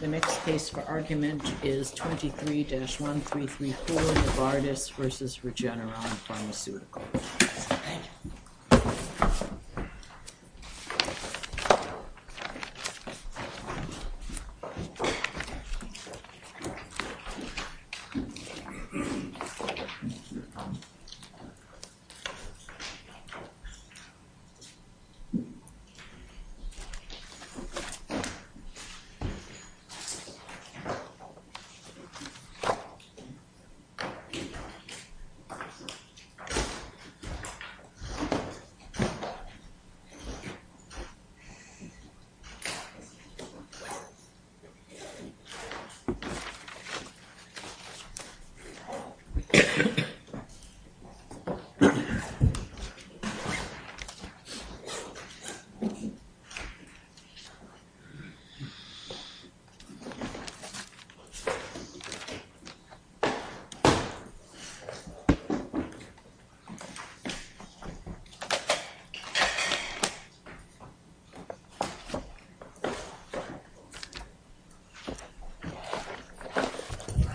The next case for argument is 23-1334 Novartis v. Regeneron Pharmaceuticals. Thank you for your patience.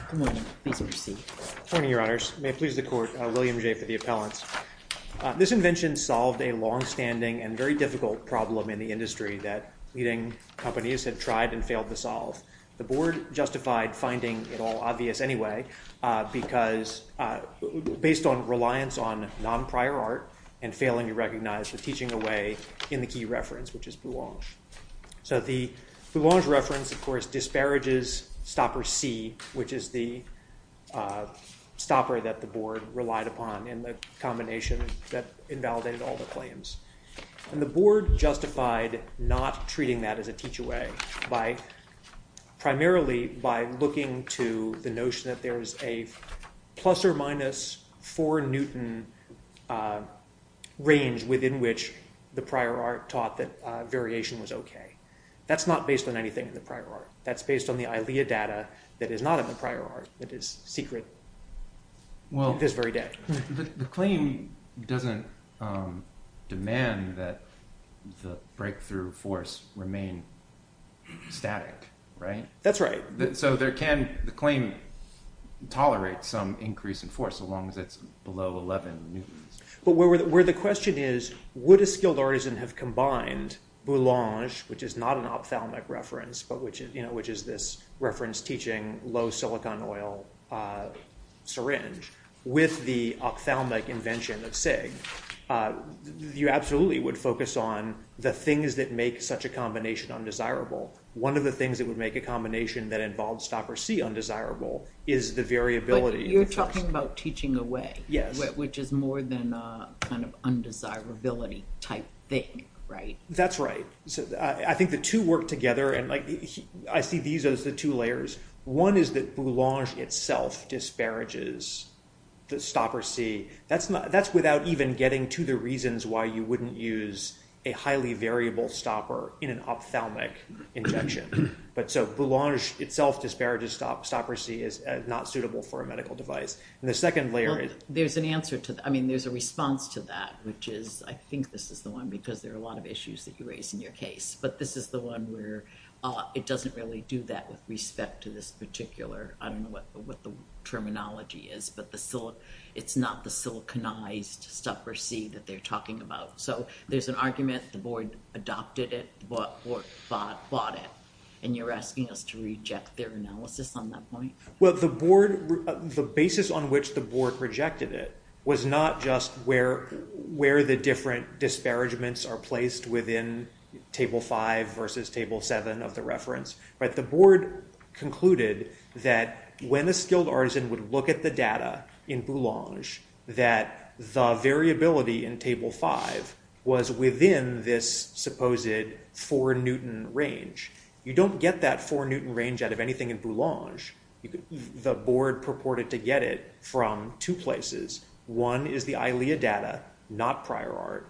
Good morning. Please proceed. Good morning, Your Honors. May it please the Court, William J. for the appellants. This invention solved a longstanding and very difficult problem in the industry that leading companies have tried and failed to solve. The Board justified finding it all obvious anyway because based on reliance on non-prior art and failing to recognize the teaching away in the key reference, which is Boulange. So the Boulange reference, of course, disparages Stopper C, which is the stopper that the Board relied upon in the combination that invalidated all the claims. And the Board justified not treating that as a teach away primarily by looking to the notion that there is a plus or minus 4 newton range within which the prior art taught that variation was okay. That's not based on anything in the prior art. That's based on the ILEA data that is not in the prior art that is secret this very day. Well, the claim doesn't demand that the breakthrough force remain static, right? That's right. So can the claim tolerate some increase in force so long as it's below 11 newtons? But where the question is, would a skilled artisan have combined Boulange, which is not an ophthalmic reference, which is this reference teaching low silicon oil syringe with the ophthalmic invention of SIG, you absolutely would focus on the things that make such a combination undesirable. One of the things that would make a combination that involved Stopper C undesirable is the variability. But you're talking about teaching away, which is more than a kind of undesirability type thing, right? That's right. So I think the two work together, and I see these as the two layers. One is that Boulange itself disparages the Stopper C. That's without even getting to the reasons why you wouldn't use a highly variable stopper in an ophthalmic injection. But so Boulange itself disparages Stopper C as not suitable for a medical device. And the second layer is... Well, there's an answer to that. I mean, there's a response to that, which is I think this is the one because there are a lot of issues that you raise in your case. But this is the one where it doesn't really do that with respect to this particular... I don't know what the terminology is, but it's not the siliconized Stopper C that they're talking about. So there's an argument, the board adopted it, the board bought it, and you're asking us to reject their analysis on that point? Well, the basis on which the board rejected it was not just where the different disparagements are placed within table five versus table seven of the reference, but the board concluded that when a skilled artisan would look at the data in Boulange, that the variability in table five was within this supposed four Newton range. You don't get that four Newton range out of anything in Boulange. The board purported to get it from two places. One is the ILEA data, not prior art.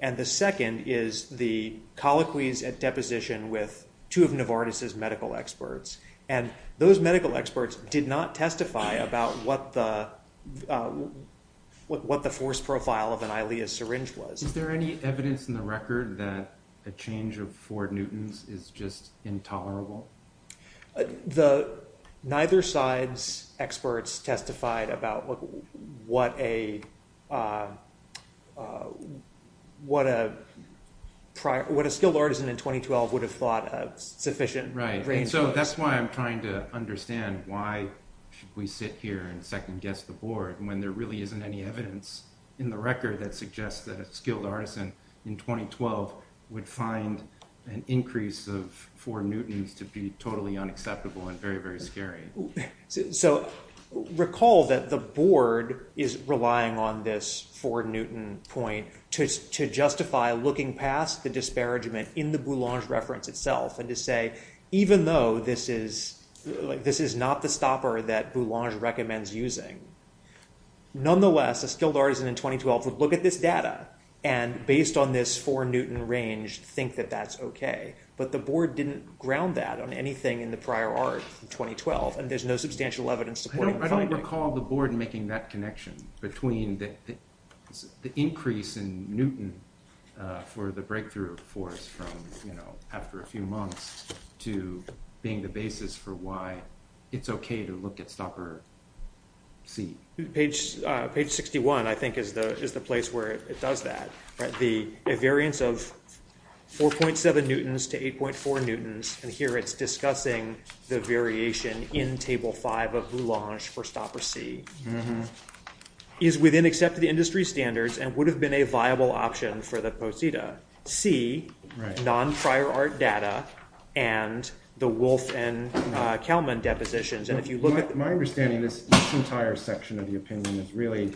And the second is the colloquies at deposition with two of Novartis's medical experts. And those medical experts did not testify about what the force profile of an ILEA syringe was. Is there any evidence in the record that a change of four Newtons is just intolerable? Neither side's experts testified about what a skilled artisan in 2012 would have thought a sufficient range was. Right, and so that's why I'm trying to understand why should we sit here and second guess the board when there really isn't any evidence in the record that suggests that a skilled artisan in 2012 would find an increase of four Newtons to be totally unacceptable and very, very scary. So recall that the board is relying on this four Newton point to justify looking past the disparagement in the Boulange reference itself and to say, even though this is not the stopper that Boulange recommends using, nonetheless, a skilled artisan in 2012 would look at this data and based on this four Newton range think that that's okay. But the board didn't ground that on anything in the prior art in 2012 and there's no substantial evidence supporting that. I don't recall the board making that connection between the increase in Newton for the breakthrough force from after a few months to being the basis for why it's okay to look at stopper C. Page 61, I think, is the place where it does that. The variance of 4.7 Newtons to 8.4 Newtons, and here it's discussing the variation in table five of Boulange for stopper C, is within accepted industry standards and would have been a viable option for the Posita. C, non-prior art data, and the Wolfe and Kalman depositions. And if you look at- My understanding is this entire section of the opinion is really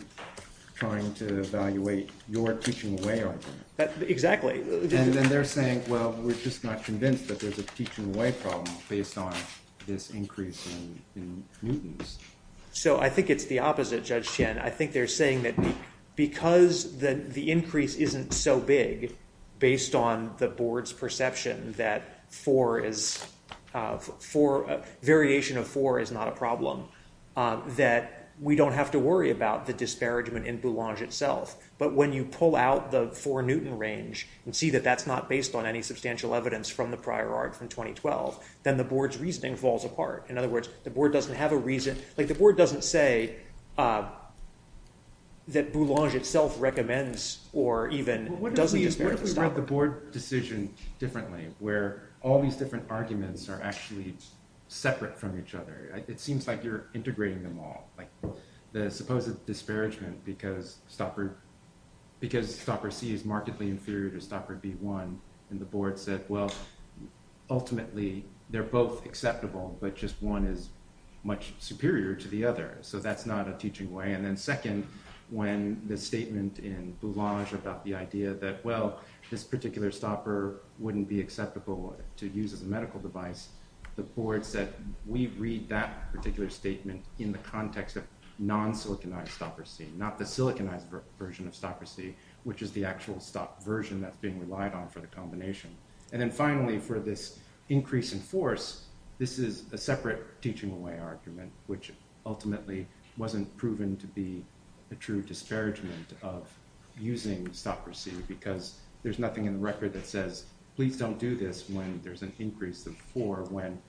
trying to evaluate your teaching way argument. Exactly. And then they're saying, well, we're just not convinced that there's a teaching way problem based on this increase in Newtons. So I think it's the opposite, Judge Tian. I think they're saying that because the increase isn't so big based on the board's perception that variation of four is not a problem, that we don't have to worry about the disparagement in Boulange itself. But when you pull out the four Newton range and see that that's not based on any substantial evidence from the prior art from 2012, then the board's reasoning falls apart. In other words, the board doesn't have a reason. Like the board doesn't say that Boulange itself recommends or even doesn't disparage the stopper. What if we wrote the board decision differently where all these different arguments are actually separate from each other? It seems like you're integrating them all. Like the supposed disparagement because stopper C is markedly inferior to stopper B1. And the board said, well, ultimately, they're both acceptable, but just one is much superior to the other. So that's not a teaching way. And then second, when the statement in Boulange about the idea that, well, this particular stopper wouldn't be acceptable to use as a medical device, the board said, we read that particular statement in the context of non-siliconized stopper C, not the siliconized version of stopper C, which is the actual stop version that's being relied on for the combination. And then finally, for this increase in force, this is a separate teaching way argument, which ultimately wasn't proven to be a true disparagement of using stopper C because there's nothing in the record that says, please don't do this when there's an increase of four when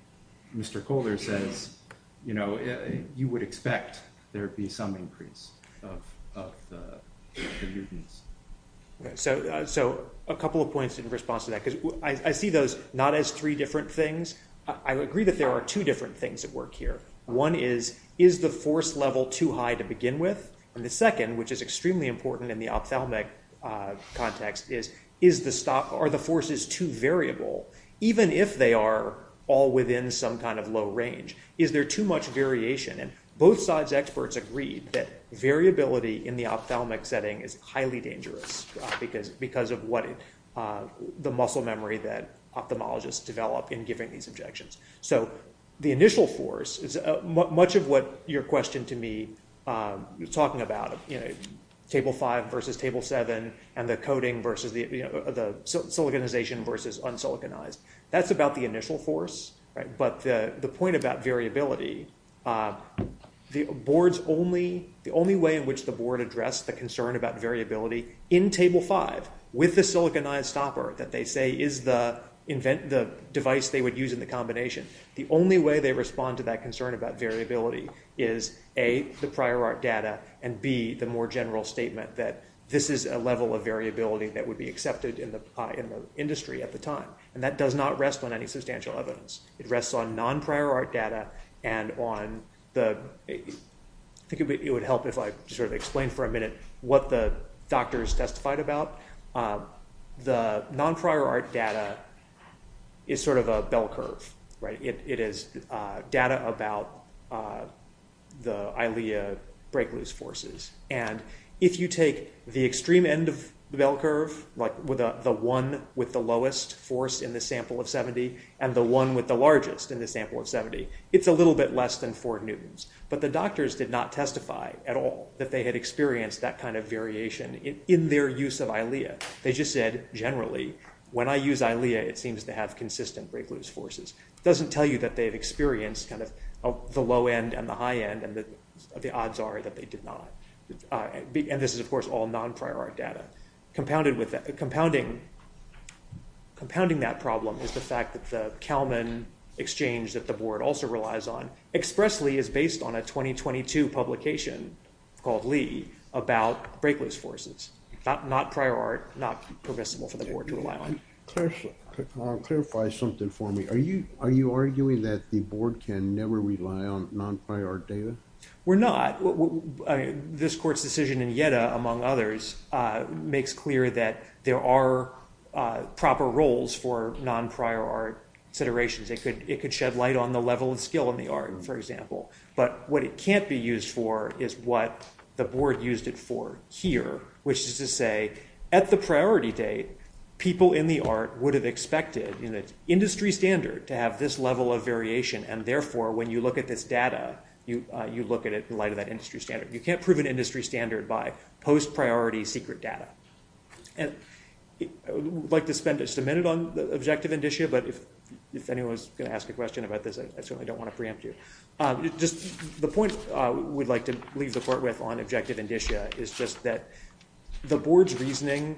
Mr. Kohler says, you know, of the mutants. So a couple of points in response to that, because I see those not as three different things. I agree that there are two different things at work here. One is, is the force level too high to begin with? And the second, which is extremely important in the ophthalmic context is, are the forces too variable, even if they are all within some kind of low range? Is there too much variation? And both sides experts agreed that variability in the ophthalmic setting is highly dangerous because of what the muscle memory that ophthalmologists develop in giving these objections. So the initial force is much of what your question to me, you're talking about, you know, table five versus table seven, and the coding versus the, you know, the siliconization versus unsiliconized. That's about the initial force, right? But the point about variability, the boards only, the only way in which the board addressed the concern about variability in table five with the siliconized stopper that they say is the device they would use in the combination. The only way they respond to that concern about variability is A, the prior art data, and B, the more general statement that this is a level of variability that would be accepted in the industry at the time. And that does not rest on any substantial evidence. It rests on non-prior art data and on the, I think it would help if I sort of explain for a minute what the doctors testified about. The non-prior art data is sort of a bell curve, right? It is data about the ILEA break-loose forces. And if you take the extreme end of the bell curve, like the one with the lowest force in the sample of 70 and the one with the largest in the sample of 70, it's a little bit less than four newtons. But the doctors did not testify at all that they had experienced that kind of variation in their use of ILEA. They just said, generally, when I use ILEA, it seems to have consistent break-loose forces. It doesn't tell you that they've experienced kind of the low end and the high end and that the odds are that they did not. And this is, of course, all non-prior art data. Compounding that problem is the fact that the Kalman exchange that the board also relies on expressly is based on a 2022 publication called Lee about break-loose forces. Not prior art, not permissible for the board to rely on. Clarify something for me. Are you arguing that the board can never rely on non-prior art data? We're not. This court's decision in IETA, among others, makes clear that there are proper roles for non-prior art considerations. It could shed light on the level of skill in the art, for example. But what it can't be used for is what the board used it for here, which is to say, at the priority date, people in the art would have expected in an industry standard to have this level of variation. And therefore, when you look at this data, you look at it in light of that industry standard. You can't prove an industry standard by post-priority secret data. And I would like to spend just a minute on the objective indicia. But if anyone's going to ask a question about this, I certainly don't want to preempt you. Just the point we'd like to leave the court with on objective indicia is just that the board's reasoning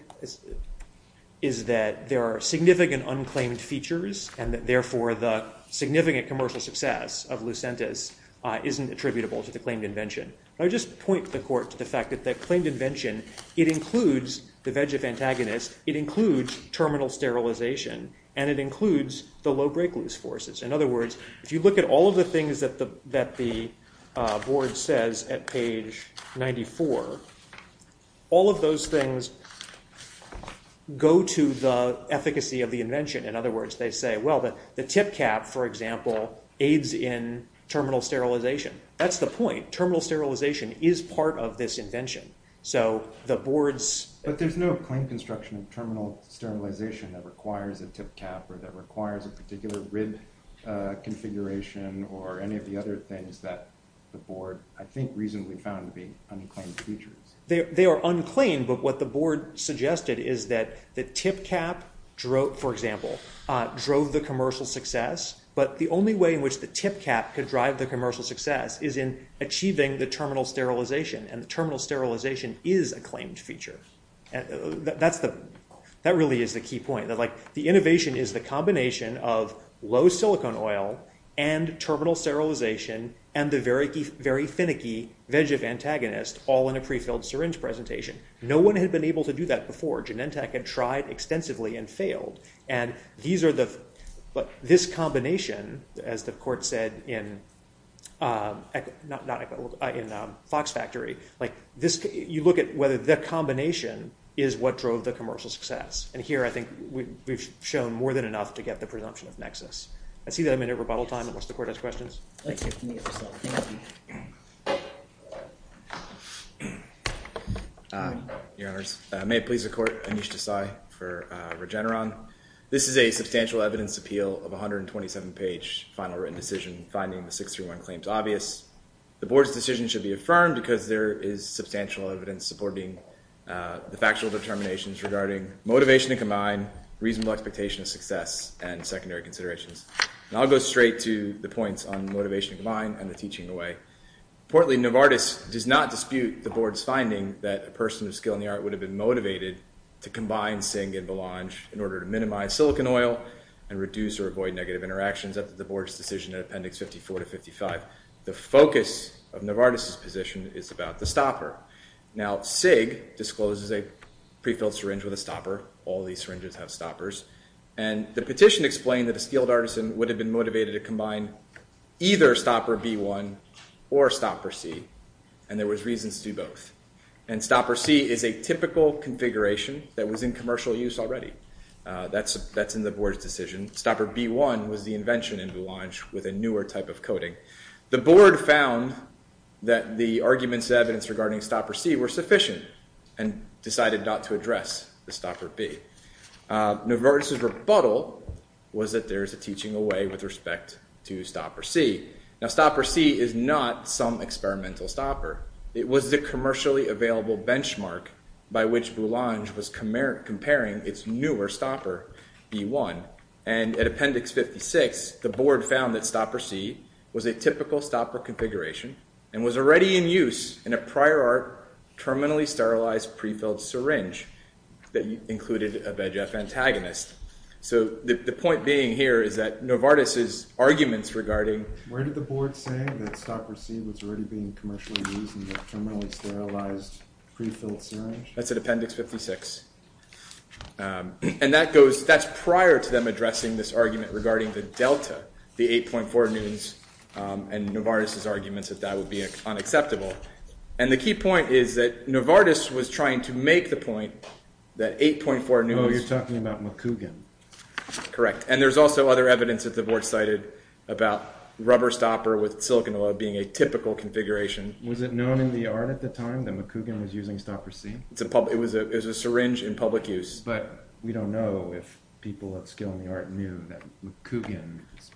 is that there are significant unclaimed features and that, therefore, the significant commercial success of Lucentis isn't attributable to the claimed invention. And I just point the court to the fact that the claimed invention, it includes the VEGF antagonist, it includes terminal sterilization, and it includes the low break-loose forces. In other words, if you look at all of the things that the board says at page 94, all of those things go to the efficacy of the invention. In other words, they say, well, the tip cap, for example, aids in terminal sterilization. That's the point. Terminal sterilization is part of this invention. So the board's... But there's no claim construction of terminal sterilization that requires a tip cap or that requires a particular rib configuration or any of the other things that the board, I think, reasonably found to be unclaimed features. They are unclaimed, but what the board suggested is that the tip cap, for example, drove the commercial success. But the only way in which the tip cap could drive the commercial success is in achieving the terminal sterilization, and the terminal sterilization is a claimed feature. That really is the key point. The innovation is the combination of low silicone oil and terminal sterilization and the very finicky VEGF antagonist all in a prefilled syringe presentation. No one had been able to do that before. Genentech had tried extensively and failed. And these are the... But this combination, as the court said in Fox Factory, you look at whether the combination is what drove the commercial success. And here, I think, we've shown more than enough to get the presumption of nexus. I see that I'm in a rebuttal time unless the court has questions. Your Honors, may it please the court, Anish Desai for Regeneron. This is a substantial evidence appeal of a 127-page final written decision finding the 631 claims obvious. The Board's decision should be affirmed because there is substantial evidence supporting the factual determinations regarding motivation to combine, reasonable expectation of success, and secondary considerations. And I'll go straight to the points on motivation to combine and the teaching away. Importantly, Novartis does not dispute the Board's finding that a person of skill in the art would have been motivated to combine Sig and Belange in order to minimize silicon oil and reduce or avoid negative interactions at the Board's decision in Appendix 54 to 55. The focus of Novartis' position is about the stopper. Now, Sig discloses a pre-filled syringe with a stopper. All these syringes have stoppers. And the petition explained that a skilled artisan would have been motivated to combine either stopper B1 or stopper C. And there was reason to do both. And stopper C is a typical configuration that was in commercial use already. That's in the Board's decision. Stopper B1 was the invention in Belange with a newer type of coating. The Board found that the arguments and evidence regarding stopper C were sufficient and decided not to address the stopper B. Novartis' rebuttal was that there is a teaching away with respect to stopper C. Now, stopper C is not some experimental stopper. It was the commercially available benchmark by which Belange was comparing its newer stopper, B1. And at Appendix 56, the Board found that stopper C was a typical stopper configuration and was already in use in a prior art terminally sterilized pre-filled syringe that included a VEGF antagonist. So the point being here is that Novartis' arguments regarding... Where did the Board say that stopper C was already being commercially used in the terminally sterilized pre-filled syringe? That's at Appendix 56. And that goes... That's prior to them addressing this argument regarding the delta, the 8.4 newtons, and Novartis' arguments that that would be unacceptable. And the key point is that Novartis was trying to make the point that 8.4 newtons... Oh, you're talking about McCougan. Correct. And there's also other evidence that the Board cited about rubber stopper with silicon oil being a typical configuration. Was it known in the art at the time that McCougan was using stopper C? It was a syringe in public use. But we don't know if people of skill in the art knew that McCougan's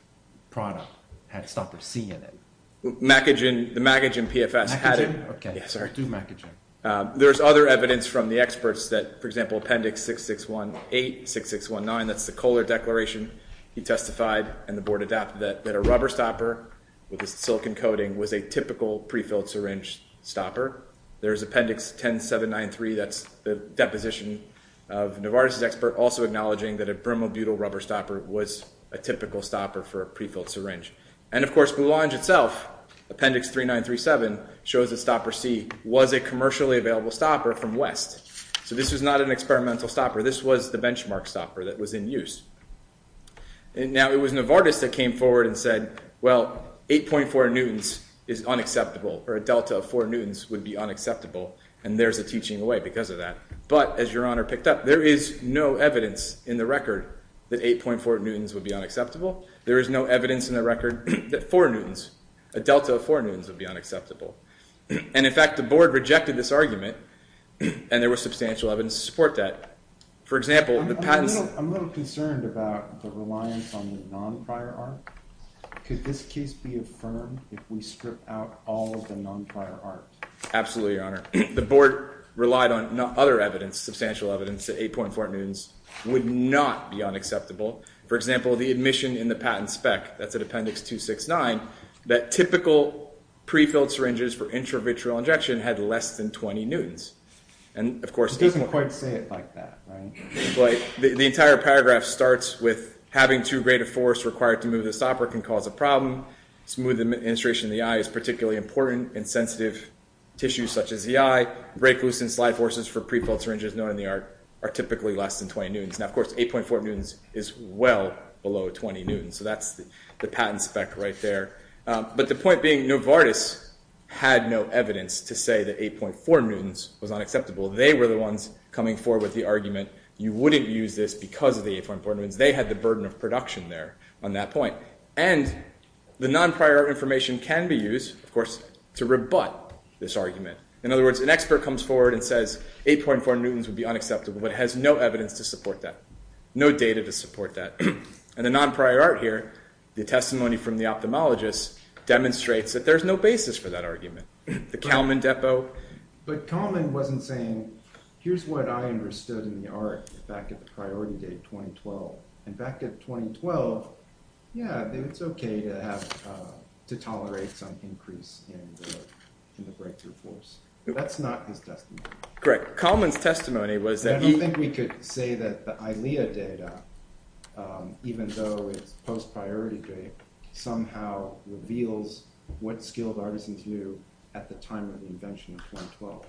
product had stopper C in it. The McAgin PFS had it. McAgin? Okay. I do McAgin. There's other evidence from the experts that, for example, Appendix 6618, 6619, that's the Kohler Declaration, he testified and the Board adapted that a rubber stopper with a silicon coating was a typical prefilled syringe stopper. There's Appendix 10793, that's the deposition of Novartis' expert also acknowledging that a brimobutyl rubber stopper was a typical stopper for a prefilled syringe. And, of course, Blue Lounge itself, Appendix 3937, shows that stopper C was a commercially available stopper from West. So this was not an experimental stopper. This was the benchmark stopper that was in use. Now, it was Novartis that came forward and said, well, 8.4 newtons is unacceptable, or a delta of 4 newtons would be unacceptable, and there's a teaching away because of that. But, as Your Honor picked up, there is no evidence in the record that 8.4 newtons would be unacceptable. There is no evidence in the record that 4 newtons, a delta of 4 newtons would be unacceptable. And, in fact, the Board rejected this argument, and there was substantial evidence to support that. For example, the patents... I'm a little concerned about the reliance on the non-prior art. Could this case be affirmed if we strip out all of the non-prior art? Absolutely, Your Honor. The Board relied on other evidence, substantial evidence that 8.4 newtons would not be unacceptable. For example, the admission in the patent spec, that's at Appendix 269, that typical prefilled syringes for intravitreal injection had less than 20 newtons. And, of course... It doesn't quite say it like that, right? But the entire paragraph starts with, having too great a force required to move the stopper can cause a problem. Smooth administration of the eye is particularly important in sensitive tissues such as the eye. Break-loosen slide forces for prefilled syringes known in the art are typically less than 20 newtons. Now, of course, 8.4 newtons is well below 20 newtons, so that's the patents spec right there. But the point being, Novartis had no evidence to say that 8.4 newtons was unacceptable. They were the ones coming forward with the argument, you wouldn't use this because of the 8.4 newtons. They had the burden of production there on that point. And the non-prior art information can be used, of course, to rebut this argument. In other words, an expert comes forward and says, 8.4 newtons would be unacceptable, but it has no evidence to support that, no data to support that. And the non-prior art here, the testimony from the ophthalmologist, demonstrates that there's no basis for that argument. The Kalman depo... But Kalman wasn't saying, here's what I understood in the art back at the priority date, 2012. And back at 2012, yeah, it's okay to have... to tolerate some increase in the breakthrough force. That's not his testimony. Correct. Kalman's testimony was that he... I don't think we could say that the ILEA data, even though it's post-priority date, somehow reveals what skilled artisans knew at the time of the invention of 2012.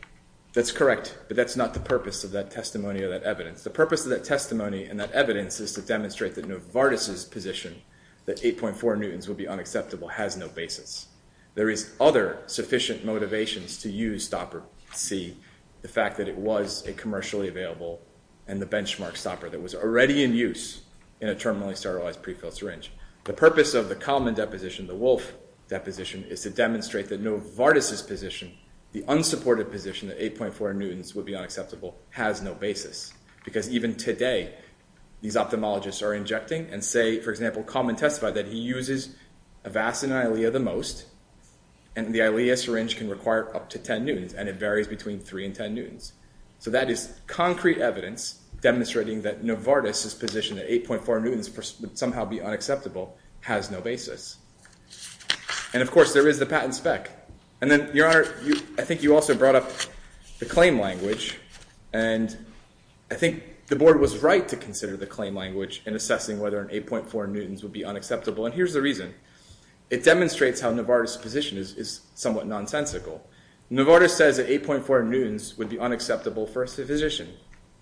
That's correct, but that's not the purpose of that testimony or that evidence. The purpose of that testimony and that evidence is to demonstrate that Novartis' position that 8.4 newtons would be unacceptable has no basis. There is other sufficient motivations to use Stopper C, the fact that it was a commercially available and the benchmark stopper that was already in use in a terminally sterilized prefilled syringe. The purpose of the Kalman deposition, the Wolf deposition, is to demonstrate that Novartis' position, the unsupported position that 8.4 newtons would be unacceptable, has no basis. Because even today, these ophthalmologists are injecting and say, for example, Kalman testified that he uses Avacin and ILEA the most, and the ILEA syringe can require up to 10 newtons, and it varies between 3 and 10 newtons. So that is concrete evidence demonstrating that Novartis' position that 8.4 newtons would somehow be unacceptable has no basis. And of course, there is the patent spec. I think you also brought up the claim language, and I think the Board was right to consider the claim language in assessing whether an 8.4 newtons would be unacceptable, and here's the reason. It demonstrates how Novartis' position is somewhat nonsensical. Novartis says that 8.4 newtons would be unacceptable for a physician.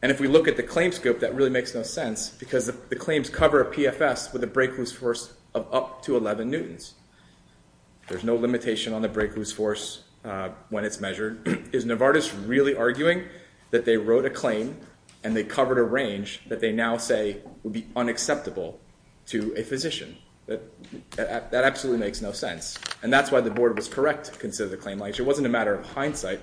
And if we look at the claim scope, that really makes no sense, because the claims cover a PFS with a break-loose force of up to 11 newtons. There's no limitation on the break-loose force when it's measured. Is Novartis really arguing that they wrote a claim and they covered a range that they now say would be unacceptable to a physician? That absolutely makes no sense. And that's why the Board was correct to consider the claim language. It wasn't a matter of hindsight.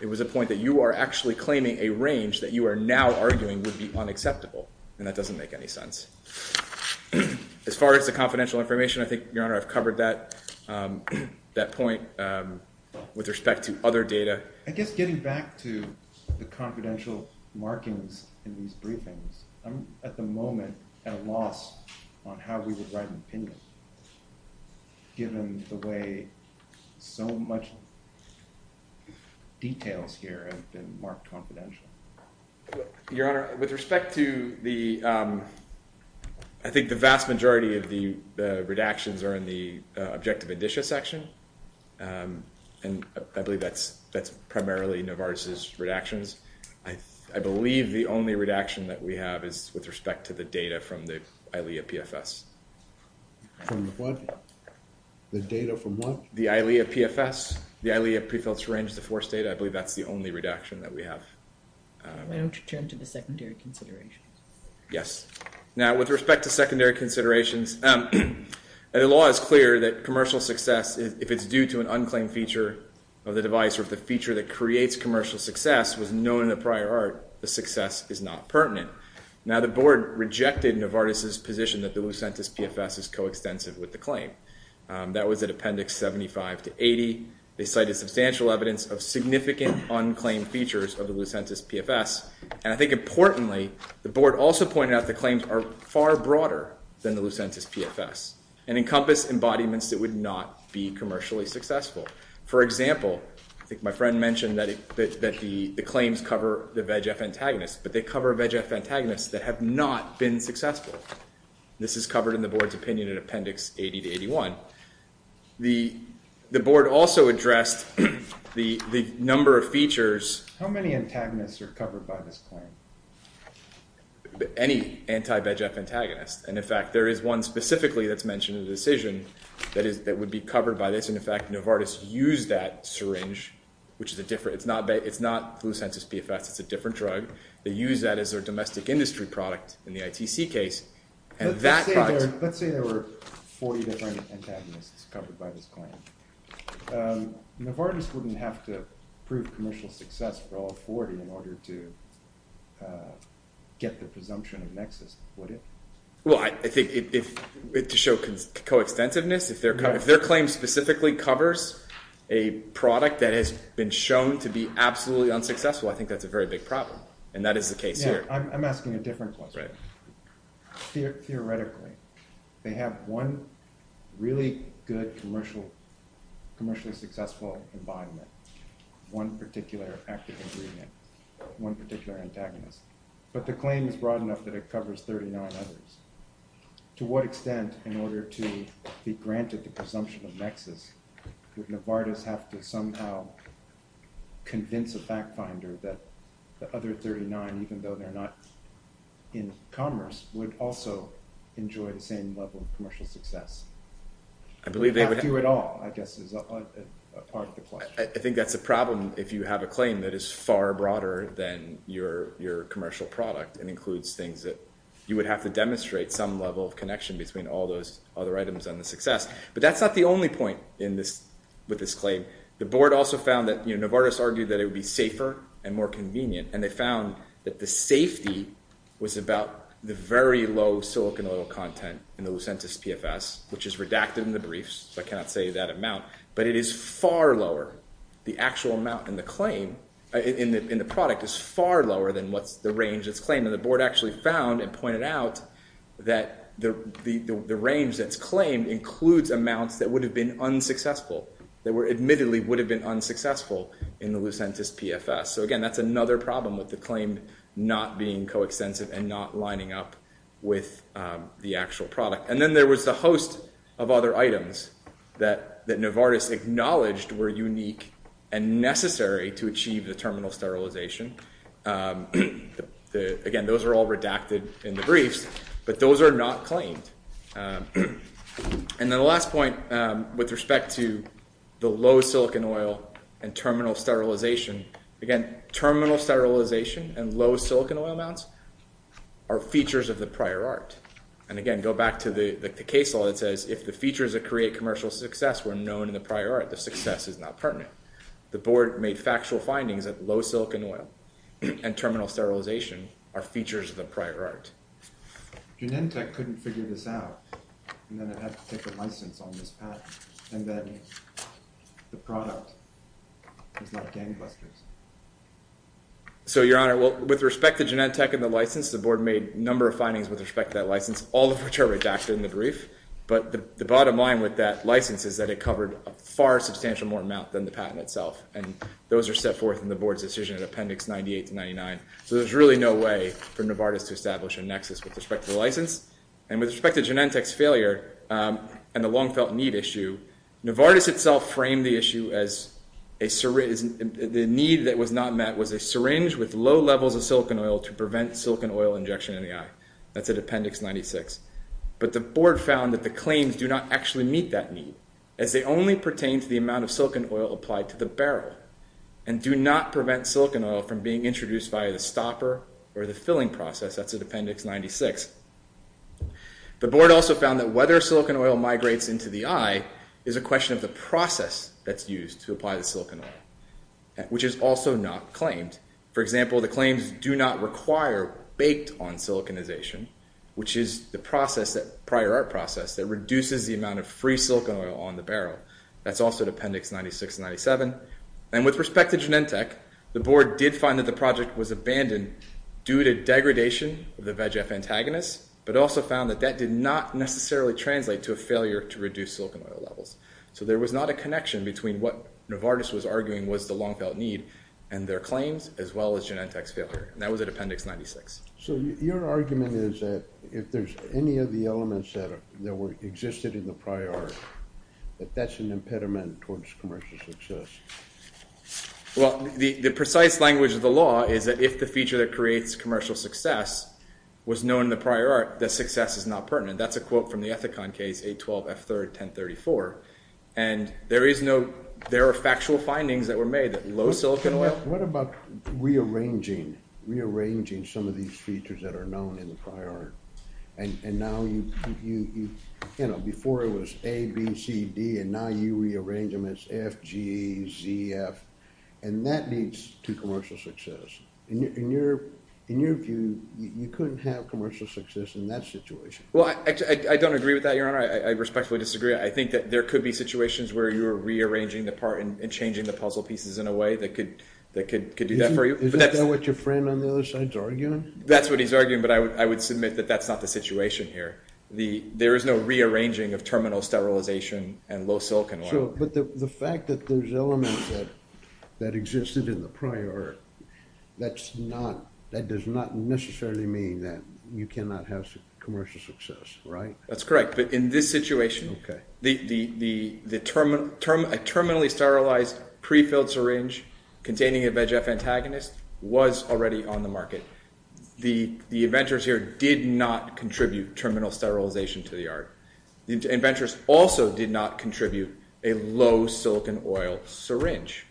It was a point that you are actually claiming a range that you are now arguing would be unacceptable, and that doesn't make any sense. As far as the confidential information, I think, Your Honor, I've covered that point with respect to other data. I guess getting back to the confidential markings in these briefings, I'm at the moment at a loss on how we would write an opinion, given the way so much details here have been marked confidential. Your Honor, with respect to the I think the vast majority of the redactions are in the objective indicia section, and I believe that's primarily Novartis' redactions. I believe the only redaction that we have is with respect to the data from the ILEA PFS. From what? The data from what? The ILEA PFS. The ILEA pre-filter range to force data. I believe that's the only redaction that we have. Why don't you turn to the secondary considerations? Yes. Now, with respect to secondary considerations, the law is clear that commercial success, if it's due to an unclaimed feature of the device or if the feature that creates commercial success was known in a prior art, the success is not pertinent. Now, the Board rejected Novartis' position that the Lucentis PFS is coextensive with the claim. That was at Appendix 75 to 80. They cited substantial evidence of significant unclaimed features of the Lucentis PFS, and I think importantly, the Board also pointed out the claims are far broader than the Lucentis PFS and encompass embodiments that would not be commercially successful. For example, I think my friend mentioned that the claims cover the VEGF antagonists, but they cover VEGF antagonists that have not been successful. This is covered in the Board's opinion in Appendix 80 to 81. The Board also addressed the number of features... How many antagonists are covered by this claim? Any anti-VEGF antagonist, and in fact, there is one specifically that's mentioned in the decision that would be covered by this, and in fact, Novartis used that syringe, which is a different... It's not Lucentis PFS, it's a different drug. They used that as their domestic industry product in the ITC case, and that... Let's say there were 40 different antagonists covered by this claim. Novartis wouldn't have to prove commercial success for all 40 in order to get the presumption of nexus, would it? Well, I think to show coextensiveness, if their claim specifically covers a product that has been shown to be absolutely unsuccessful, I think that's a very big problem, and that is the case here. I'm asking a different question. Theoretically, they have one really good commercial... commercially successful environment, one particular active ingredient, one particular antagonist, but the claim is broad enough that it covers 39 others. To what extent, in order to be granted the presumption of nexus, would Novartis have to somehow convince a fact-finder that the other 39, even though they're not in commerce, would also enjoy the same level of commercial success? I believe they would... I think that's a problem if you have a claim that is far broader than your commercial product and includes things that you would have to demonstrate some level of connection between all those other items and the success, but that's not the only point with this claim. The board also found that Novartis argued that it would be safer and more convenient, and they found that the safety was about the very low silicon oil content in the Lucentis PFS, which is redacted in the briefs, so I cannot say that amount, but it is far lower. The actual amount in the claim in the product is far lower than the range that's claimed, and the board actually found and pointed out that the range that's claimed includes amounts that would have been unsuccessful, that admittedly would have been unsuccessful in the Lucentis PFS. So again, that's another problem with the claim not being coextensive and not lining up with the actual product. And then there was a host of other items that Novartis acknowledged were unique and necessary to achieve the terminal sterilization. Again, those are all redacted in the briefs, but those are not claimed. And then the last point with respect to the low silicon oil and terminal sterilization, again, terminal sterilization and low silicon oil amounts are features of the prior art. And again, go back to the case law that says if the features that create commercial success were known in the prior art, the success is not pertinent. The board made factual findings that low silicon oil and terminal sterilization are features of the prior art. Genentech couldn't figure this out, and then it had to take a license on this patent. And then the product is not gangbusters. So, Your Honor, with respect to Genentech and the license, the board made a number of findings with respect to that license, all of which are redacted in the brief. But the bottom line with that license is that it covered a far substantial more amount than the patent itself. And those are set forth in the board's decision in Appendix 98 to 99. So there's really no way for Novartis to establish a nexus with respect to the license. And with respect to Genentech's failure and the long-felt need issue, Novartis itself framed the issue as a syringe, the need that was not met was a syringe with low levels of silicon oil to prevent silicon oil injection in the eye. That's at Appendix 96. But the board found that the claims do not actually meet that need, as they only pertain to the amount of silicon oil applied to the barrel, and do not prevent silicon oil from being introduced via the stopper or the filling process. That's at Appendix 96. The board also found that whether silicon oil migrates into the eye is a question of the process that's used to apply the silicon oil, which is also not claimed. For example, the claims do not require baked-on siliconization, which is the prior art process that reduces the amount of free silicon oil on the barrel. That's also at Appendix 96 and 97. And with respect to Genentech, the board did find that the project was abandoned due to degradation of the VEGF antagonist, but also found that that did not necessarily translate to a failure to reduce silicon oil levels. So there was not a connection between what Novartis was arguing was the long-felt need and their claims as well as Genentech's failure. And that was at Appendix 96. So your argument is that if there's any of the elements that existed in the prior art, that that's an impediment towards commercial success. Well, the precise language of the law is that if the feature that creates commercial success was known in the prior art, that success is not pertinent. That's a quote from the Ethicon case, 812 F3rd 1034. And there is no... There are factual findings that were made that low silicon oil... What about rearranging some of these features that are known in the prior art? And now you... You know, before it was A, B, C, D, and now you rearrange them as F, G, Z, F, and that leads to commercial success. In your view, you couldn't have commercial success in that situation. Well, I don't agree with that, Your Honor. I respectfully disagree. I think that there could be situations where you're rearranging the part and changing the puzzle pieces in a way that could do that for you. Isn't that what your friend on the other side's arguing? That's what he's arguing, but I would submit that that's not the situation here. There is no rearranging of terminal sterilization and low silicon oil. But the fact that there's elements that existed in the prior art, that's not... That does not necessarily mean that you cannot have commercial success, right? That's correct, but in this situation, a terminally sterilized pre-filled syringe containing a VEGF antagonist was already on the market. The inventors here did not contribute terminal sterilization to the art. The inventors also did not contribute a low silicon oil syringe.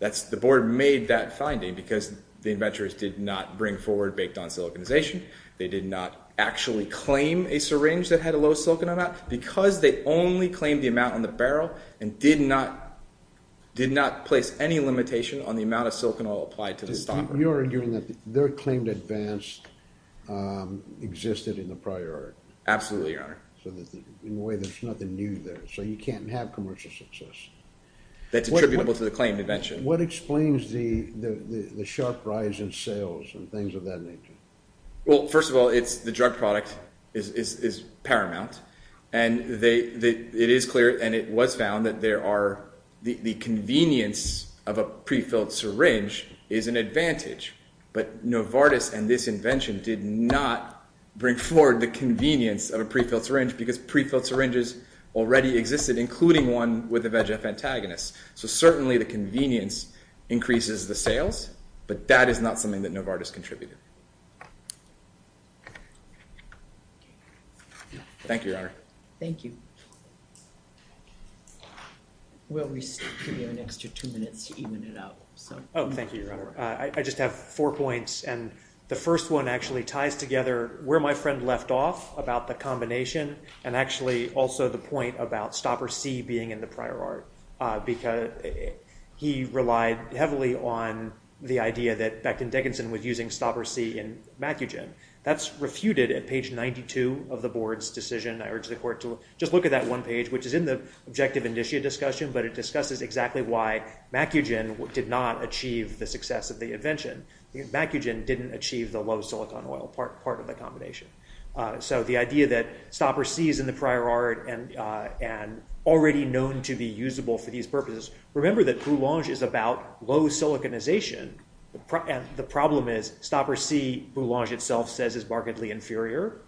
The board made that finding because the inventors did not bring forward baked-on siliconization. They did not actually claim a syringe that had a low silicon amount because they only claimed the amount on the barrel and did not place any limitation on the amount of silicon oil applied to the stopper. You're arguing that their claimed advance existed in the prior art. Absolutely, Your Honor. So in a way, there's nothing new there, so you can't have commercial success. That's attributable to the claimed invention. What explains the sharp rise in sales and things of that nature? First of all, the drug product is paramount. It is clear, and it was found, that there are... The convenience of a pre-filled syringe is an advantage. But Novartis and this invention did not bring forward the convenience of a pre-filled syringe because pre-filled syringes already existed, including one with a VEGF antagonist. So certainly the convenience increases the sales, but that is not something that Novartis contributed. Thank you, Your Honor. Thank you. We'll give you an extra two minutes to even it out. Oh, thank you, Your Honor. I just have four points, and the first one actually ties together where my friend left off about the combination and actually also the point about Stopper C being in the prior art. He relied heavily on the idea that Becton Dickinson was using Stopper C in Macugen. That's refuted at page 92 of the Board's decision. I urge the Court to just look at that one page, which is in the Objective-Initiate discussion, but it discusses exactly why Macugen did not achieve the success of the invention. Macugen didn't achieve the low silicon oil part of the combination. So the idea that Stopper C is in the prior art and already known to be usable for these purposes. Remember that Boulange is about low siliconization, and the problem is Stopper C, Boulange itself says, is markedly inferior.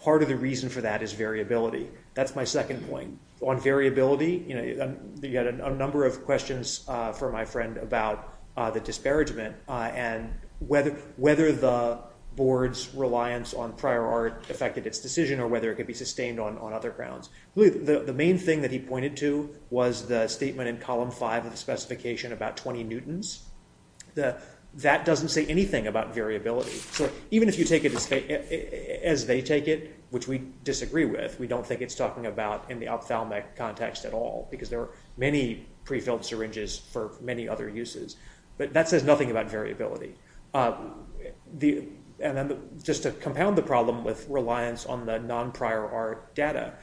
Part of the reason for that is variability. That's my second point. On variability, you've got a number of questions for my friend about the disparagement and whether the Board's reliance on prior art affected its decision or whether it could be sustained on other grounds. The main thing that he pointed to was the statement in column 5 of the specification about 20 newtons. That doesn't say anything about variability. So even if you take it as they take it, which we disagree with, we don't think it's talking about in the ophthalmic context at all because there are many pre-filled syringes for many other uses. But that says nothing about variability. Just to compound the problem with reliance on the non-prior art data,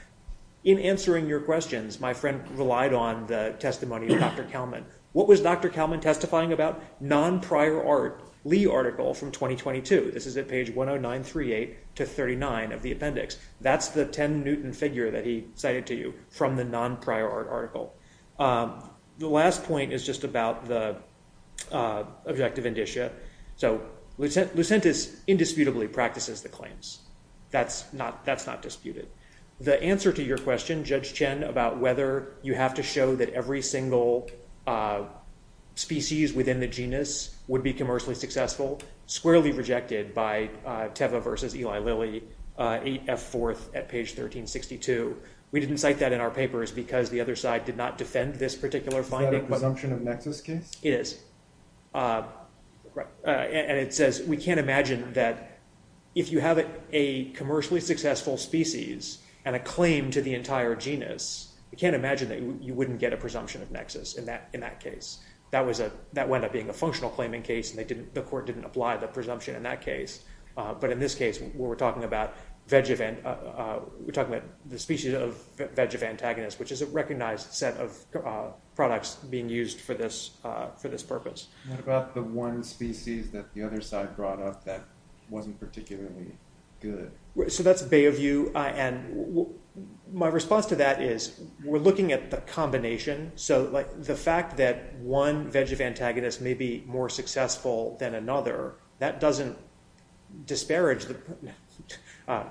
in answering your questions, my friend relied on the testimony of Dr. Kalman. What was Dr. Kalman testifying about? Non-prior art, Lee article from 2022. This is at page 10938 to 39 of the appendix. That's the 10 newton figure that he cited to you from the non-prior art article. The last point is just about the objective indicia. Lucentis indisputably practices the claims. That's not disputed. The answer to your question, Judge Chen, about whether you have to show that every single species within the genus would be commercially successful, squarely rejected by Teva versus Eli Lilly, 8F4 at page 1362. We didn't cite that in our papers because the other side did not defend this particular finding. Is that a presumption of nexus case? It is. It says we can't imagine that if you have a commercially successful species and a claim to the entire genus, we can't imagine that you wouldn't get a presumption of nexus in that case. That wound up being a functional claiming case and the court didn't apply the presumption in that case. In this case, we're talking about the species of Vegevantagonist, which is a recognized set of products being used for this purpose. What about the one species that the other side brought up that wasn't particularly good? That's a bay of view. My response to that is we're looking at the combination. The fact that one Vegevantagonist may be more successful than another, that doesn't disparage the...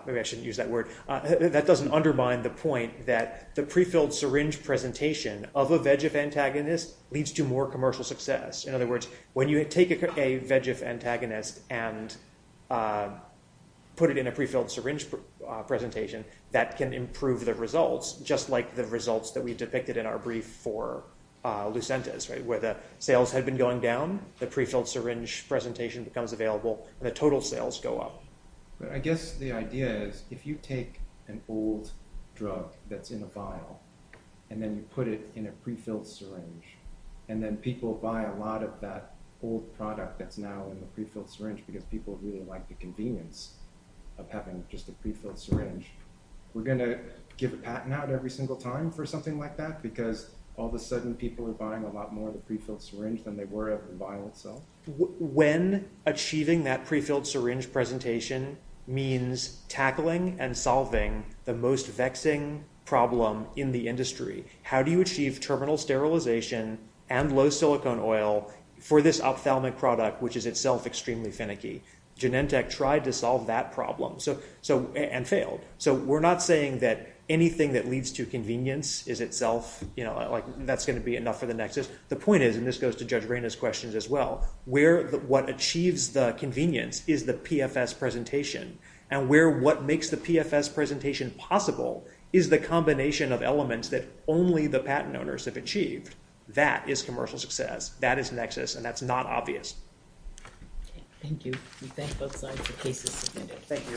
Maybe I shouldn't use that word. That doesn't undermine the point that the pre-filled syringe presentation of a Vegevantagonist leads to more commercial success. In other words, when you take a Vegevantagonist and put it in a pre-filled syringe presentation, that can improve the results, just like the results that we depicted in our brief for Lucentis, where the sales had been going down, the pre-filled syringe presentation becomes available, and the total sales go up. I guess the idea is if you take an old drug that's in a vial and then you put it in a pre-filled syringe, and then people buy a lot of that old product that's now in the pre-filled syringe because people really like the convenience of having just a pre-filled syringe, we're going to give a patent out every single time for something like that? Because all of a sudden people are buying a lot more of the pre-filled syringe than they were of the vial itself. When achieving that pre-filled syringe presentation means tackling and solving the most vexing problem in the industry. How do you achieve terminal sterilization and low silicone oil for this ophthalmic product, which is itself extremely finicky? Genentech tried to solve that problem and failed. So we're not saying that anything that leads to convenience is itself, you know, like that's going to be enough for the nexus. The problem is now where what achieves the convenience is the PFS presentation, and where what makes the PFS presentation possible is the combination of elements that only the patent owners have achieved. That is commercial success. That is nexus, and that's not obvious. Thank you.